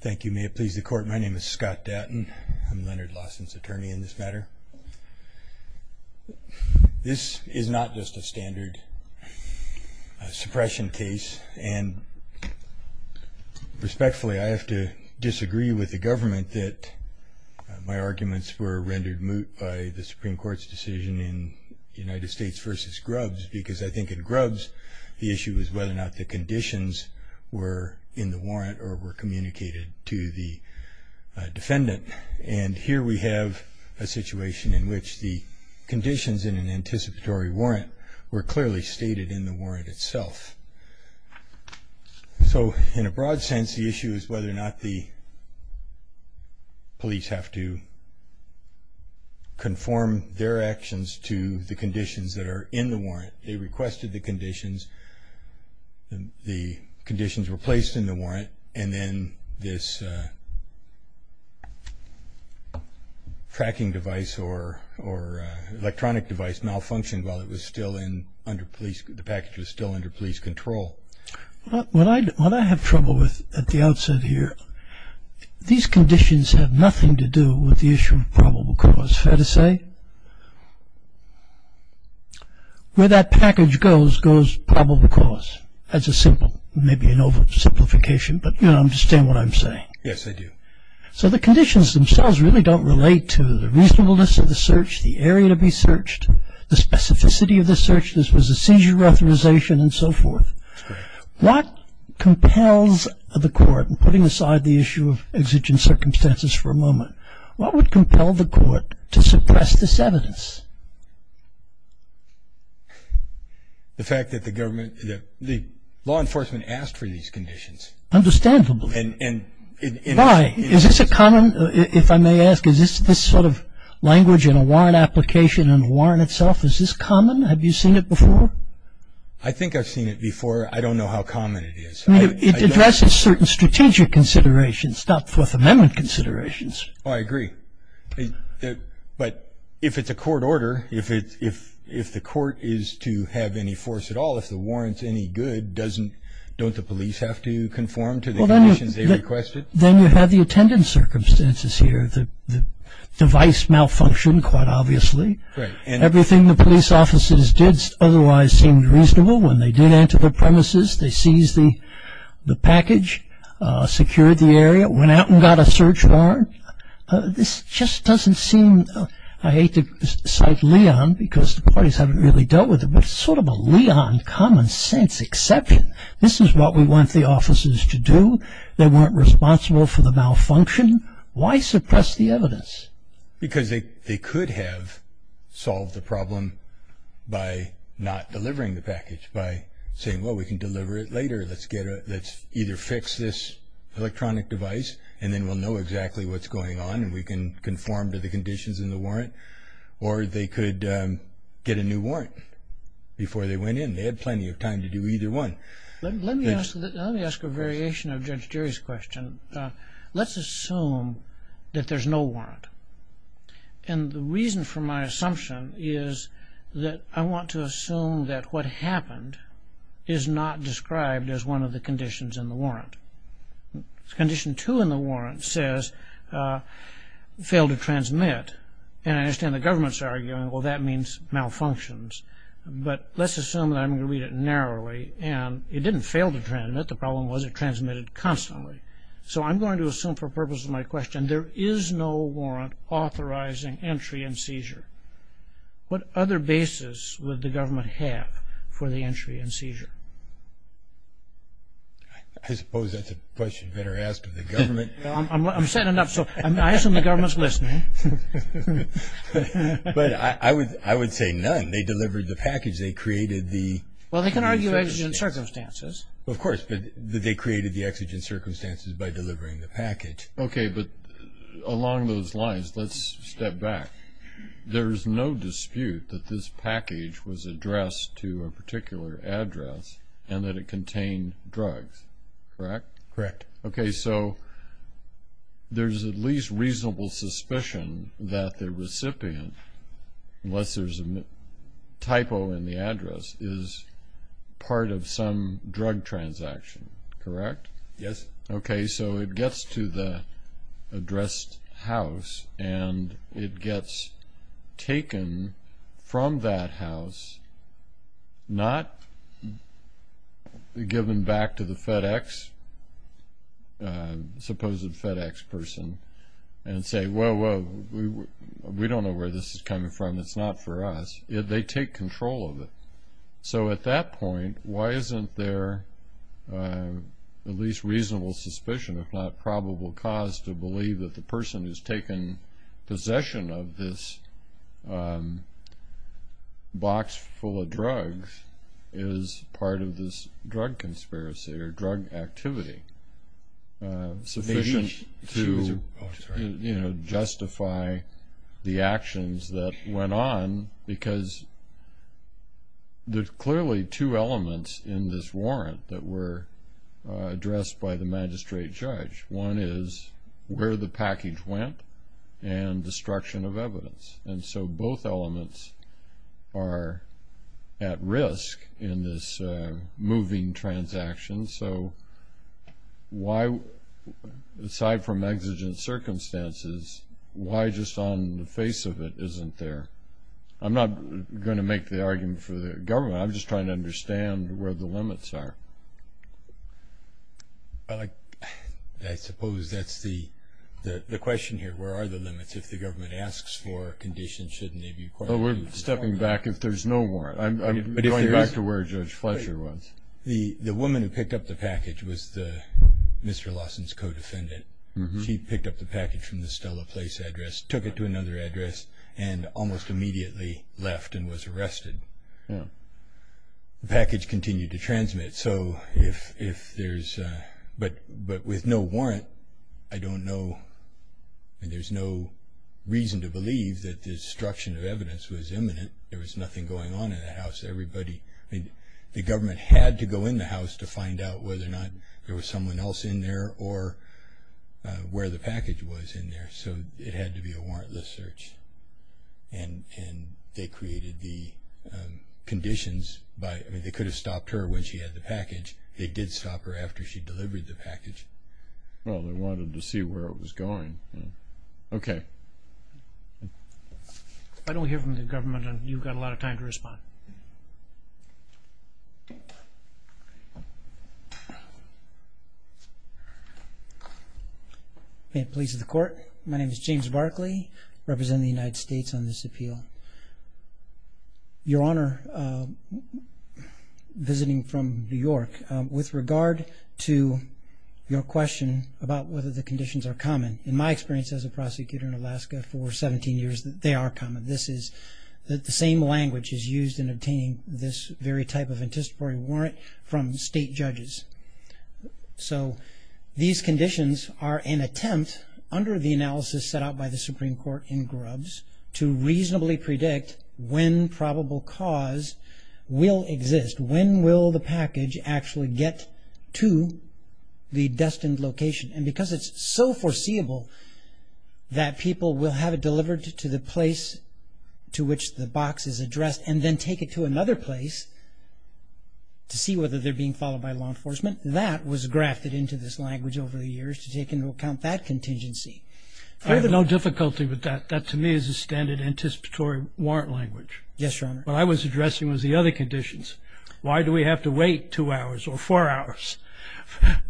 Thank you. May it please the court. My name is Scott Dattin. I'm Leonard Lawson's attorney in this matter. This is not just a standard suppression case, and respectfully, I have to disagree with the government that my arguments were rendered moot by the Supreme Court's decision in United States v. Grubbs because I think in Grubbs the issue is whether or not the conditions were in the warrant or were communicated to the defendant. And here we have a situation in which the conditions in an anticipatory warrant were clearly stated in the warrant itself. So, in a broad sense, the issue is whether or not the police have to conform their actions to the conditions that are in the warrant. They requested the conditions, the conditions were placed in the warrant, and then this tracking device or electronic device malfunctioned while the package was still under police control. What I have trouble with at the outset here, these conditions have nothing to do with the issue of probable cause. Fair to say? Where that package goes, goes probable cause. That's a simple, maybe an oversimplification, but you understand what I'm saying. Yes, I do. So the conditions themselves really don't relate to the reasonableness of the search, the area to be searched, the specificity of the search, this was a seizure authorization, and so forth. What compels the court, putting aside the issue of exigent circumstances for a moment, what would compel the court to suppress this evidence? The fact that the government, the law enforcement asked for these conditions. Understandably. And why? Is this a common, if I may ask, is this sort of language in a warrant application and a warrant itself, is this common? Have you seen it before? I think I've seen it before. I don't know how common it is. It addresses certain strategic considerations, not Fourth Amendment considerations. I agree. But if it's a court order, if the court is to have any force at all, if the warrant's any good, don't the police have to conform to the conditions they requested? Then you have the attendant circumstances here. The device malfunctioned, quite obviously. Everything the police officers did otherwise seemed reasonable. When they did enter the premises, they seized the package, secured the area, went out and got a search warrant. This just doesn't seem, I hate to cite Leon because the parties haven't really dealt with it, but it's sort of a Leon common sense exception. This is what we want the officers to do. They weren't responsible for the malfunction. Why suppress the evidence? Because they could have solved the problem by not delivering the package, by saying, well, we can deliver it later. Let's either fix this electronic device and then we'll know exactly what's going on and we can conform to the conditions in the warrant. Or they could get a new warrant before they went in. They had plenty of time to do either one. Let me ask a variation of Judge Jerry's question. Let's assume that there's no warrant. And the reason for my assumption is that I want to assume that what happened is not described as one of the conditions in the warrant. Condition two in the warrant says fail to transmit. And I understand the government's arguing, well, that means malfunctions. But let's assume that I'm going to read it narrowly. And it didn't fail to transmit. The problem was it transmitted constantly. So I'm going to assume for purposes of my question, there is no warrant authorizing entry and seizure. What other basis would the government have for the entry and seizure? I suppose that's a question better asked of the government. I'm setting it up. So I assume the government's listening. But I would say none. They delivered the package. They created the exigent circumstances. Well, they can argue exigent circumstances. Of course, but they created the exigent circumstances by delivering the package. Okay, but along those lines, let's step back. There's no dispute that this package was addressed to a particular address and that it contained drugs, correct? Correct. Okay, so there's at least reasonable suspicion that the recipient, unless there's a typo in the address, is part of some drug transaction, correct? Yes. Okay, so it gets to the addressed house, and it gets taken from that house, not given back to the FedEx, supposed FedEx person, and say, whoa, whoa, we don't know where this is coming from. It's not for us. They take control of it. So at that point, why isn't there at least reasonable suspicion, if not probable cause, to believe that the person who's taken possession of this box full of drugs is part of this drug conspiracy or drug activity sufficient to justify the actions that went on because there's clearly two elements in this warrant that were addressed by the magistrate judge. One is where the package went and destruction of evidence. And so both elements are at risk in this moving transaction. So why, aside from exigent circumstances, why just on the face of it isn't there? I'm not going to make the argument for the government. I'm just trying to understand where the limits are. Well, I suppose that's the question here. Where are the limits? If the government asks for conditions, shouldn't they be required? We're stepping back if there's no warrant. I'm going back to where Judge Fletcher was. The woman who picked up the package was Mr. Lawson's co-defendant. She picked up the package from the Stella Place address, took it to another address, and almost immediately left and was arrested. The package continued to transmit. But with no warrant, I don't know. There's no reason to believe that the destruction of evidence was imminent. There was nothing going on in the house. The government had to go in the house to find out whether or not there was someone else in there or where the package was in there. So it had to be a warrantless search. And they created the conditions. They could have stopped her when she had the package. They did stop her after she delivered the package. Well, they wanted to see where it was going. Okay. If I don't hear from the government, you've got a lot of time to respond. May it please the Court, my name is James Barkley, representing the United States on this appeal. Your Honor, visiting from New York, with regard to your question about whether the conditions are common, in my experience as a prosecutor in Alaska for 17 years, they are common. The same language is used in obtaining this very type of anticipatory warrant from state judges. So these conditions are an attempt, under the analysis set out by the Supreme Court in Grubbs, to reasonably predict when probable cause will exist. When will the package actually get to the destined location? And because it's so foreseeable that people will have it delivered to the place to which the box is addressed and then take it to another place to see whether they're being followed by law enforcement, that was grafted into this language over the years to take into account that contingency. I have no difficulty with that. That, to me, is a standard anticipatory warrant language. Yes, Your Honor. What I was addressing was the other conditions. Why do we have to wait two hours or four hours?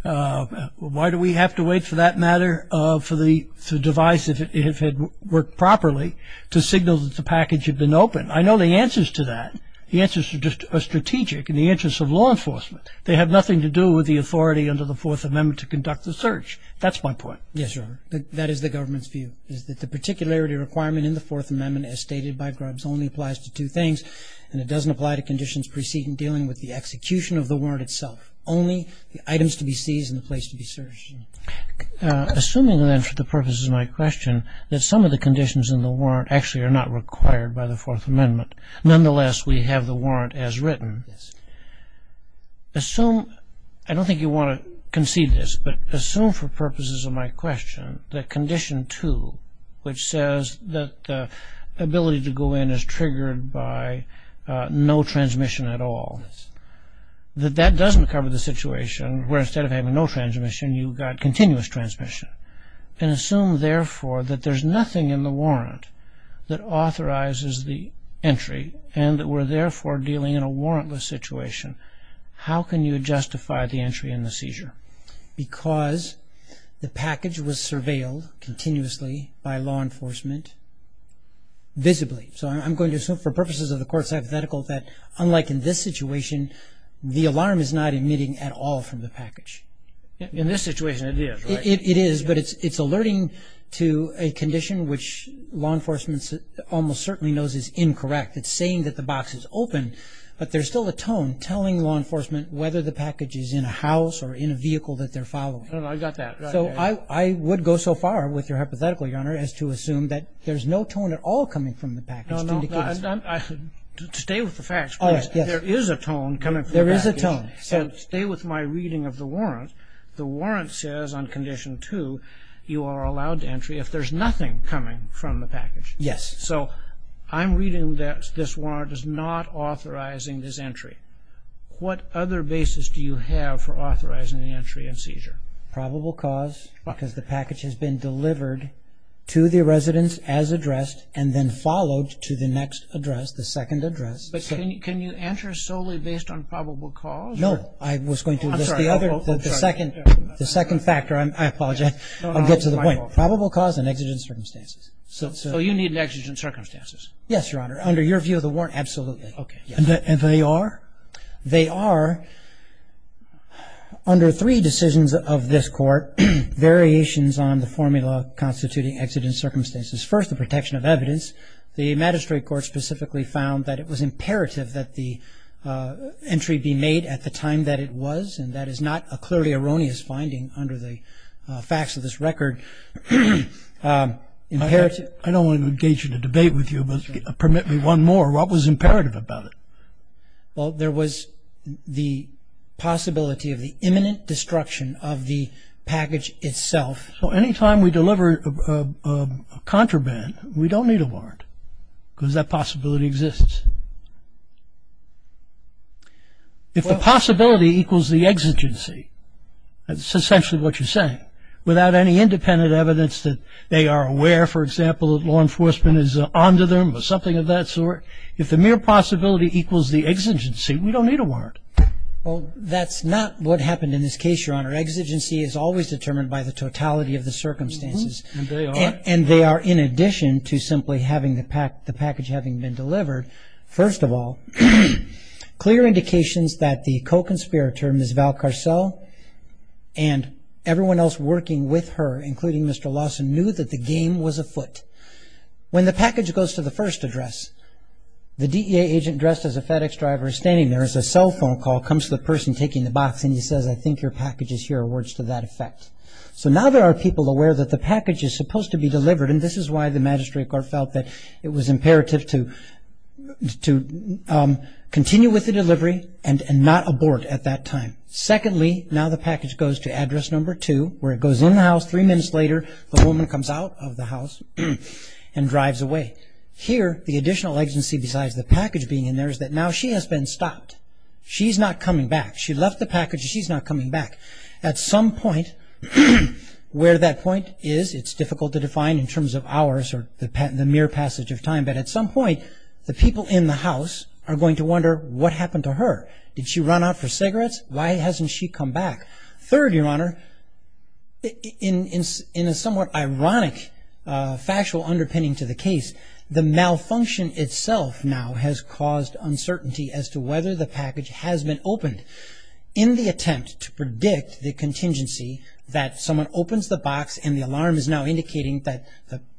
Why do we have to wait, for that matter, for the device, if it had worked properly, to signal that the package had been opened? I know the answers to that. The answers are strategic in the interest of law enforcement. They have nothing to do with the authority under the Fourth Amendment to conduct the search. That's my point. Yes, Your Honor. That is the government's view, is that the particularity requirement in the Fourth Amendment, as stated by Grubbs, only applies to two things, and it doesn't apply to conditions preceding dealing with the execution of the warrant itself. Only the items to be seized and the place to be searched. Assuming, then, for the purposes of my question, that some of the conditions in the warrant actually are not required by the Fourth Amendment, nonetheless, we have the warrant as written. Yes. Assume, I don't think you want to concede this, but assume for purposes of my question that Condition 2, which says that the ability to go in is triggered by no transmission at all, Yes. that that doesn't cover the situation where instead of having no transmission, you've got continuous transmission. And assume, therefore, that there's nothing in the warrant that authorizes the entry and that we're, therefore, dealing in a warrantless situation. How can you justify the entry and the seizure? Because the package was surveilled continuously by law enforcement visibly. So I'm going to assume for purposes of the Court's hypothetical that unlike in this situation, the alarm is not emitting at all from the package. In this situation, it is, right? It is, but it's alerting to a condition which law enforcement almost certainly knows is incorrect. It's saying that the box is open, but there's still a tone telling law enforcement whether the package is in a house or in a vehicle that they're following. I've got that. So I would go so far with your hypothetical, Your Honor, as to assume that there's no tone at all coming from the package. No, no. Stay with the facts, please. There is a tone coming from the package. There is a tone. Stay with my reading of the warrant. The warrant says on Condition 2 you are allowed entry if there's nothing coming from the package. Yes. So I'm reading that this warrant is not authorizing this entry. What other basis do you have for authorizing the entry and seizure? Probable cause because the package has been delivered to the residence as addressed and then followed to the next address, the second address. But can you answer solely based on probable cause? No. I was going to address the other, the second factor. I apologize. I'll get to the point. Probable cause and exigent circumstances. So you need an exigent circumstances? Yes, Your Honor. Under your view of the warrant, absolutely. Okay. And they are? They are, under three decisions of this court, variations on the formula constituting exigent circumstances. First, the protection of evidence. The magistrate court specifically found that it was imperative that the entry be made at the time that it was, and that is not a clearly erroneous finding under the facts of this record. I don't want to engage in a debate with you, but permit me one more. What was imperative about it? Well, there was the possibility of the imminent destruction of the package itself. So anytime we deliver a contraband, we don't need a warrant because that possibility exists. If the possibility equals the exigency, that's essentially what you're saying, without any independent evidence that they are aware, for example, that law enforcement is on to them or something of that sort, if the mere possibility equals the exigency, we don't need a warrant. Well, that's not what happened in this case, Your Honor. Exigency is always determined by the totality of the circumstances. And they are? And they are in addition to simply having the package having been delivered. First of all, clear indications that the co-conspirator, Ms. Val Carcel, and everyone else working with her, including Mr. Lawson, knew that the game was afoot. When the package goes to the first address, the DEA agent dressed as a FedEx driver is standing there, there's a cell phone call, comes to the person taking the box, and he says, I think your package is here, or words to that effect. So now there are people aware that the package is supposed to be delivered, and this is why the Magistrate Court felt that it was imperative to continue with the delivery and not abort at that time. Secondly, now the package goes to address number two, where it goes in the house, and now three minutes later, the woman comes out of the house and drives away. Here, the additional agency besides the package being in there is that now she has been stopped. She's not coming back. She left the package and she's not coming back. At some point, where that point is, it's difficult to define in terms of hours or the mere passage of time, but at some point, the people in the house are going to wonder what happened to her. Did she run out for cigarettes? Why hasn't she come back? Third, Your Honor, in a somewhat ironic factual underpinning to the case, the malfunction itself now has caused uncertainty as to whether the package has been opened. In the attempt to predict the contingency that someone opens the box and the alarm is now indicating that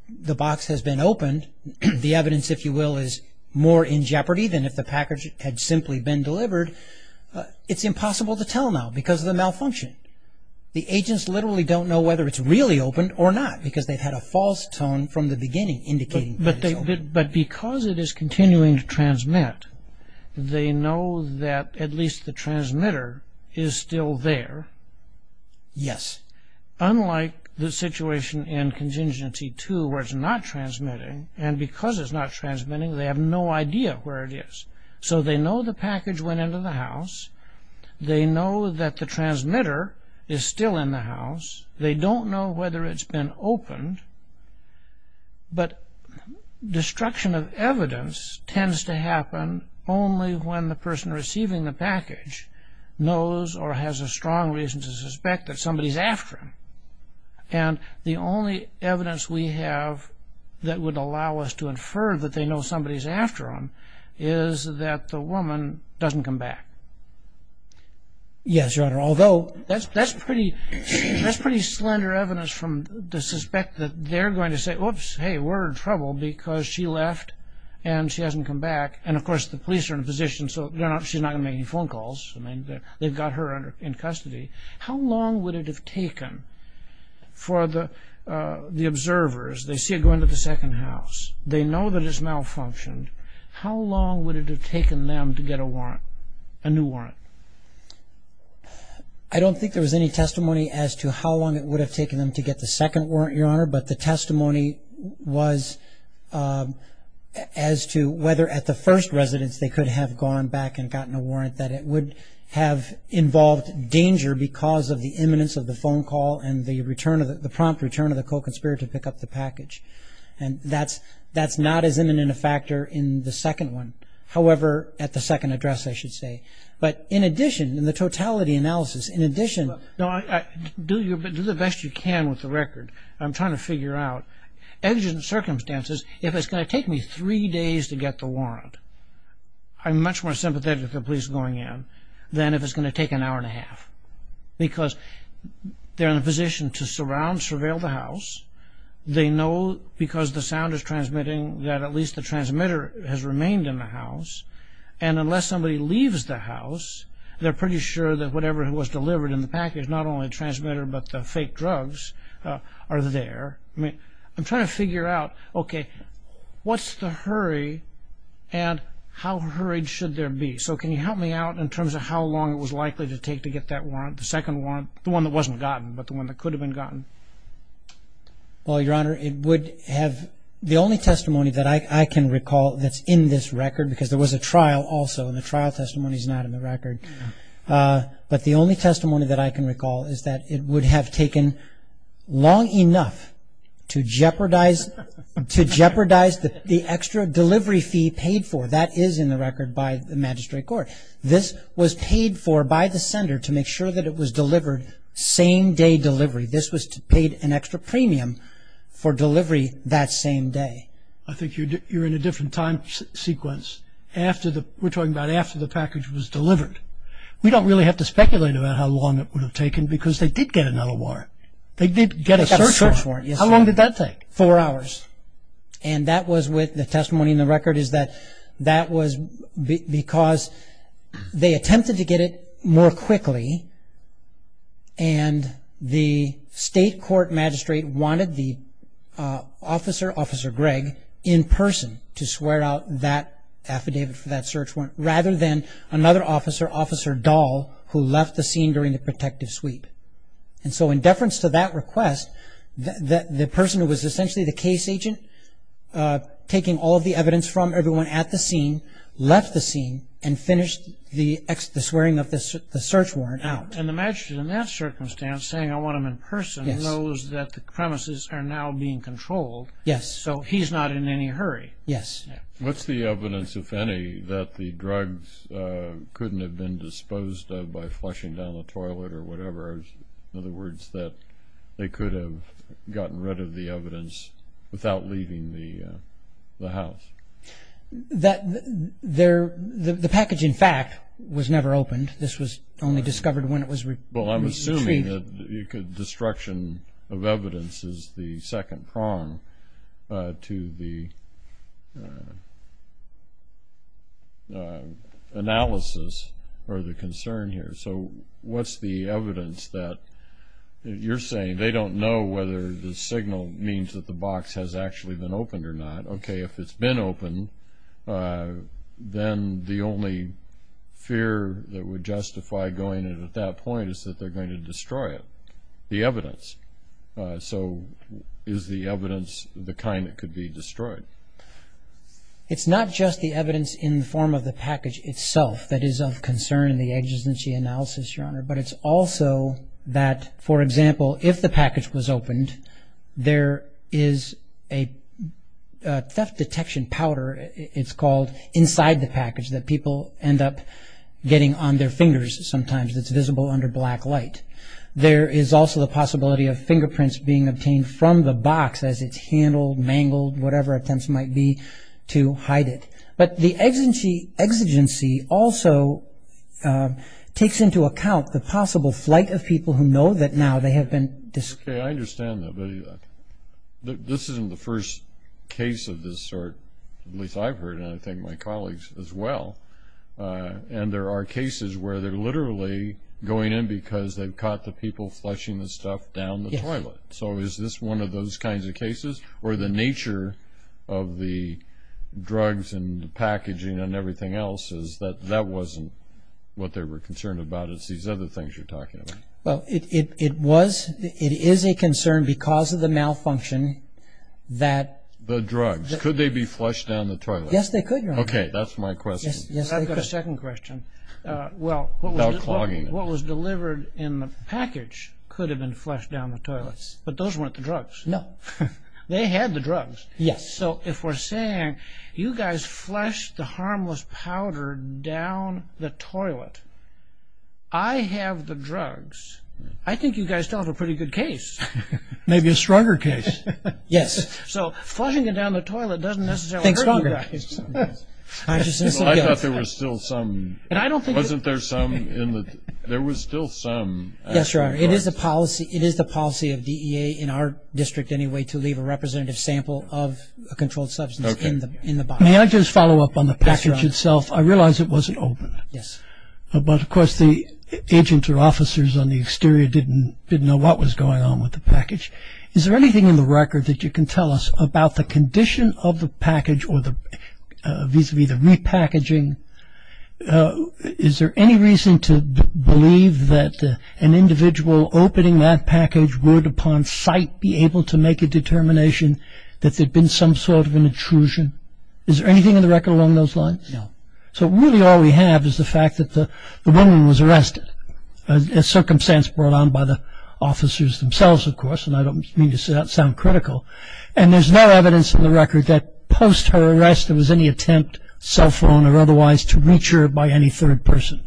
the box has been opened, the evidence, if you will, is more in jeopardy than if the package had simply been delivered, it's impossible to tell now because of the malfunction. The agents literally don't know whether it's really opened or not because they've had a false tone from the beginning indicating that it's opened. But because it is continuing to transmit, they know that at least the transmitter is still there. Yes. Unlike the situation in Contingency 2 where it's not transmitting, and because it's not transmitting, they have no idea where it is. So they know the package went into the house. They know that the transmitter is still in the house. They don't know whether it's been opened. But destruction of evidence tends to happen only when the person receiving the package knows or has a strong reason to suspect that somebody is after them. And the only evidence we have that would allow us to infer that they know somebody is after them is that the woman doesn't come back. Yes, Your Honor. Although that's pretty slender evidence to suspect that they're going to say, whoops, hey, we're in trouble because she left and she hasn't come back. And, of course, the police are in a position so she's not going to make any phone calls. They've got her in custody. How long would it have taken for the observers, they see it go into the second house, they know that it's malfunctioned, how long would it have taken them to get a warrant, a new warrant? I don't think there was any testimony as to how long it would have taken them to get the second warrant, Your Honor, but the testimony was as to whether at the first residence they could have gone back and gotten a warrant, that it would have involved danger because of the imminence of the phone call and the prompt return of the co-conspirator to pick up the package. And that's not as imminent a factor in the second one. However, at the second address, I should say. But in addition, in the totality analysis, in addition... Do the best you can with the record. I'm trying to figure out. As in circumstances, if it's going to take me three days to get the warrant, I'm much more sympathetic to the police going in than if it's going to take an hour and a half because they're in a position to surround, surveil the house. They know because the sound is transmitting that at least the transmitter has remained in the house. And unless somebody leaves the house, they're pretty sure that whatever was delivered in the package, not only the transmitter but the fake drugs, are there. I'm trying to figure out, okay, what's the hurry and how hurried should there be? So can you help me out in terms of how long it was likely to take to get that warrant, the second warrant, the one that wasn't gotten but the one that could have been gotten? Well, Your Honor, it would have... The only testimony that I can recall that's in this record, because there was a trial also and the trial testimony is not in the record, but the only testimony that I can recall is that it would have taken long enough to jeopardize the extra delivery fee paid for. That is in the record by the magistrate court. This was paid for by the sender to make sure that it was delivered same-day delivery. This was paid an extra premium for delivery that same day. I think you're in a different time sequence. We're talking about after the package was delivered. We don't really have to speculate about how long it would have taken because they did get another warrant. They did get a search warrant. They got a search warrant, yes, Your Honor. How long did that take? Four hours. The testimony in the record is that that was because they attempted to get it more quickly and the state court magistrate wanted the officer, Officer Greg, in person to swear out that affidavit for that search warrant rather than another officer, Officer Dahl, who left the scene during the protective sweep. And so in deference to that request, the person who was essentially the case agent, taking all of the evidence from everyone at the scene, left the scene and finished the swearing of the search warrant out. And the magistrate in that circumstance, saying, I want him in person, knows that the premises are now being controlled. Yes. So he's not in any hurry. Yes. What's the evidence, if any, that the drugs couldn't have been disposed of by flushing down the toilet or whatever? In other words, that they could have gotten rid of the evidence without leaving the house? The package, in fact, was never opened. This was only discovered when it was retrieved. Well, I'm assuming that destruction of evidence is the second prong to the analysis or the concern here. So what's the evidence that you're saying? They don't know whether the signal means that the box has actually been opened or not. Okay, if it's been opened, then the only fear that would justify going in at that point is that they're going to destroy it, the evidence. So is the evidence the kind that could be destroyed? It's not just the evidence in the form of the package itself that is of concern in the agency analysis, Your Honor, but it's also that, for example, if the package was opened, there is a theft detection powder, it's called, inside the package that people end up getting on their fingers sometimes that's visible under black light. There is also the possibility of fingerprints being obtained from the box as it's handled, mangled, whatever attempts might be to hide it. But the exigency also takes into account the possible flight of people who know that now they have been... Okay, I understand that. But this isn't the first case of this sort, at least I've heard, and I think my colleagues as well. And there are cases where they're literally going in because they've caught the people flushing the stuff down the toilet. So is this one of those kinds of cases? Or the nature of the drugs and the packaging and everything else is that that wasn't what they were concerned about, it's these other things you're talking about. Well, it is a concern because of the malfunction that... The drugs, could they be flushed down the toilet? Yes, they could, Your Honor. Okay, that's my question. I've got a second question. Well, what was delivered in the package could have been flushed down the toilet, but those weren't the drugs. No. They had the drugs. Yes. So if we're saying you guys flushed the harmless powder down the toilet, I have the drugs, I think you guys still have a pretty good case. Maybe a stronger case. Yes. So flushing it down the toilet doesn't necessarily hurt you guys. I thought there was still some. And I don't think... Wasn't there some in the... There was still some. Yes, Your Honor. It is the policy of DEA in our district anyway to leave a representative sample of a controlled substance in the box. May I just follow up on the package itself? I realize it wasn't opened. Yes. But, of course, the agents or officers on the exterior didn't know what was going on with the package. Is there anything in the record that you can tell us about the condition of the package or vis-à-vis the repackaging? Is there any reason to believe that an individual opening that package would, upon sight, be able to make a determination that there had been some sort of an intrusion? Is there anything in the record along those lines? No. So really all we have is the fact that the woman was arrested, a circumstance brought on by the officers themselves, of course, and I don't mean to sound critical. And there's no evidence in the record that post her arrest there was any attempt, cell phone or otherwise, to reach her by any third person.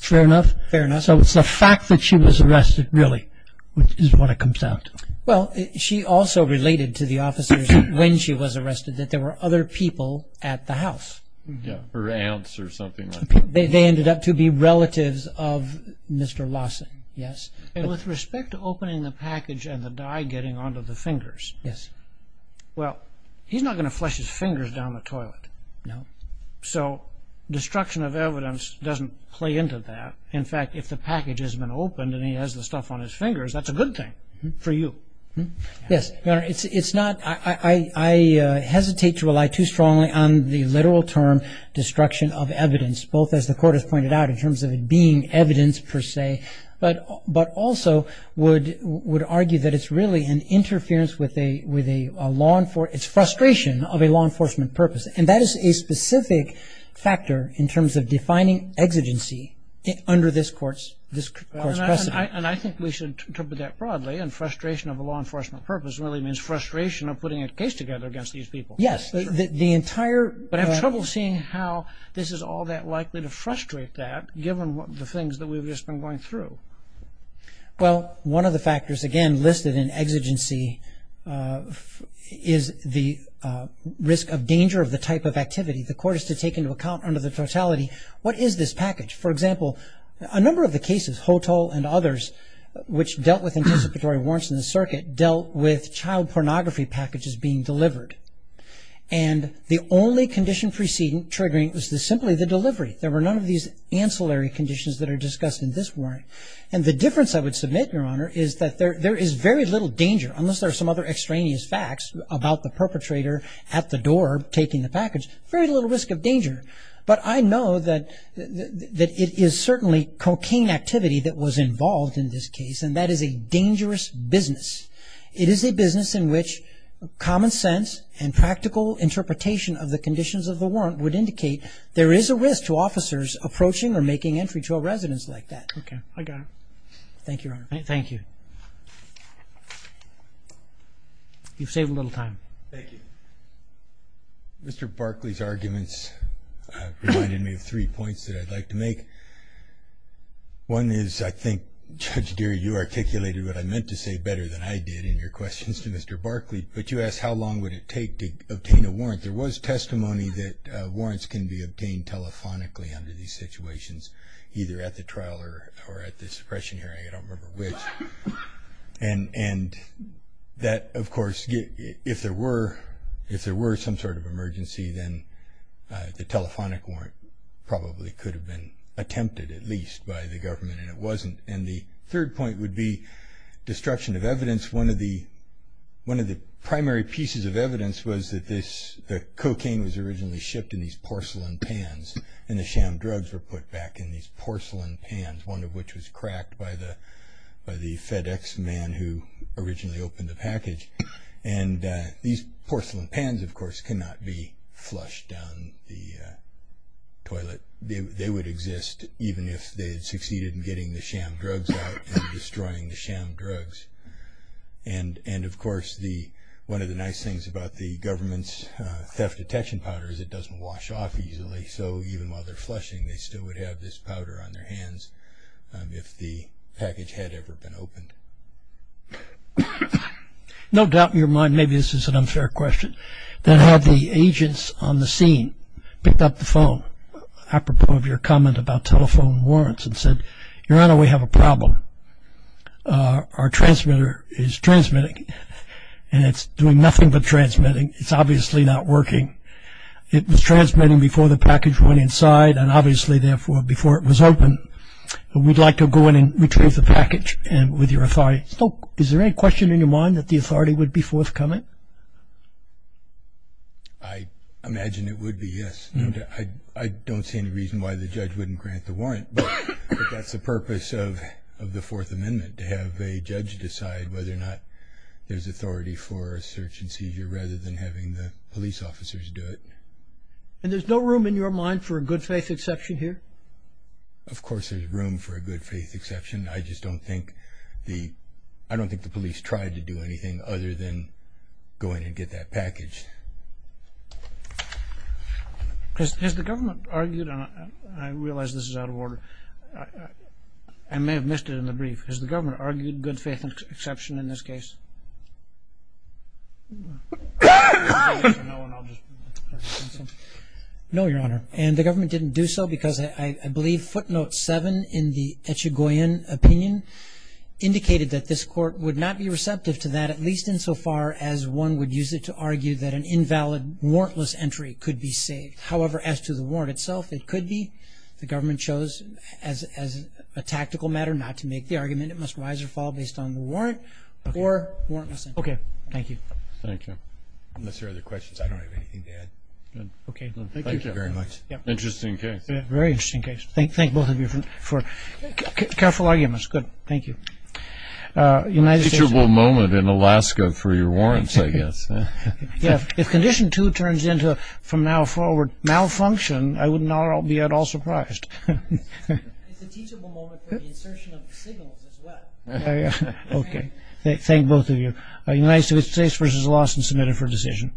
Fair enough? Fair enough. So it's the fact that she was arrested, really, is what it comes down to. Well, she also related to the officers when she was arrested that there were other people at the house. Yes, her aunts or something like that. They ended up to be relatives of Mr. Lawson, yes. And with respect to opening the package and the dye getting onto the fingers. Yes. Well, he's not going to flush his fingers down the toilet. No. So destruction of evidence doesn't play into that. In fact, if the package has been opened and he has the stuff on his fingers, that's a good thing for you. Yes. Your Honor, it's not – I hesitate to rely too strongly on the literal term destruction of evidence, both as the Court has pointed out in terms of it being evidence per se, but also would argue that it's really an interference with a law – it's frustration of a law enforcement purpose. And that is a specific factor in terms of defining exigency under this Court's precedent. And I think we should interpret that broadly. And frustration of a law enforcement purpose really means frustration of putting a case together against these people. Yes. The entire – But I have trouble seeing how this is all that likely to frustrate that, given the things that we've just been going through. Well, one of the factors, again, listed in exigency is the risk of danger of the type of activity. The Court has to take into account under the totality, what is this package? For example, a number of the cases, Hotel and others, which dealt with anticipatory warrants in the circuit, dealt with child pornography packages being delivered. And the only condition preceding triggering was simply the delivery. There were none of these ancillary conditions that are discussed in this warrant. And the difference I would submit, Your Honor, is that there is very little danger, unless there are some other extraneous facts about the perpetrator at the door taking the package, very little risk of danger. But I know that it is certainly cocaine activity that was involved in this case, and that is a dangerous business. It is a business in which common sense and practical interpretation of the conditions of the warrant would indicate there is a risk to officers approaching or making entry to a residence like that. Okay. I got it. Thank you, Your Honor. Thank you. You've saved a little time. Thank you. Mr. Barkley's arguments reminded me of three points that I'd like to make. One is I think, Judge Geary, you articulated what I meant to say better than I did in your questions to Mr. Barkley. But you asked how long would it take to obtain a warrant. There was testimony that warrants can be obtained telephonically under these situations, either at the trial or at the suppression hearing. I don't remember which. The telephonic warrant probably could have been attempted at least by the government, and it wasn't. And the third point would be destruction of evidence. One of the primary pieces of evidence was that the cocaine was originally shipped in these porcelain pans, and the sham drugs were put back in these porcelain pans, one of which was cracked by the FedEx man who originally opened the package. And these porcelain pans, of course, cannot be flushed down the toilet. They would exist even if they had succeeded in getting the sham drugs out and destroying the sham drugs. And, of course, one of the nice things about the government's theft detection powder is it doesn't wash off easily. So even while they're flushing, they still would have this powder on their hands if the package had ever been opened. No doubt in your mind, maybe this is an unfair question, that had the agents on the scene picked up the phone, apropos of your comment about telephone warrants and said, Your Honor, we have a problem. Our transmitter is transmitting, and it's doing nothing but transmitting. It's obviously not working. It was transmitting before the package went inside, and obviously, therefore, before it was opened. We'd like to go in and retrieve the package with your authority. Is there any question in your mind that the authority would be forthcoming? I imagine it would be, yes. I don't see any reason why the judge wouldn't grant the warrant, but that's the purpose of the Fourth Amendment, to have a judge decide whether or not there's authority for a search and seizure rather than having the police officers do it. And there's no room in your mind for a good faith exception here? Of course there's room for a good faith exception. I just don't think the police tried to do anything other than go in and get that package. Has the government argued, and I realize this is out of order, I may have missed it in the brief, has the government argued good faith exception in this case? No, Your Honor. And the government didn't do so because I believe footnote 7 in the Echigoyen opinion indicated that this court would not be receptive to that, at least insofar as one would use it to argue that an invalid warrantless entry could be saved. However, as to the warrant itself, it could be. The government chose, as a tactical matter, not to make the argument. It must rise or fall based on the warrant or warrantless entry. Okay. Thank you. Thank you. Unless there are other questions, I don't have anything to add. Okay. Thank you very much. Interesting case. Very interesting case. Thank both of you for careful arguments. Good. Thank you. A teachable moment in Alaska for your warrants, I guess. If Condition 2 turns into, from now forward, malfunction, I would not be at all surprised. It's a teachable moment for the insertion of signals as well. Okay. Thank both of you. United States v. Lawson, submitted for decision.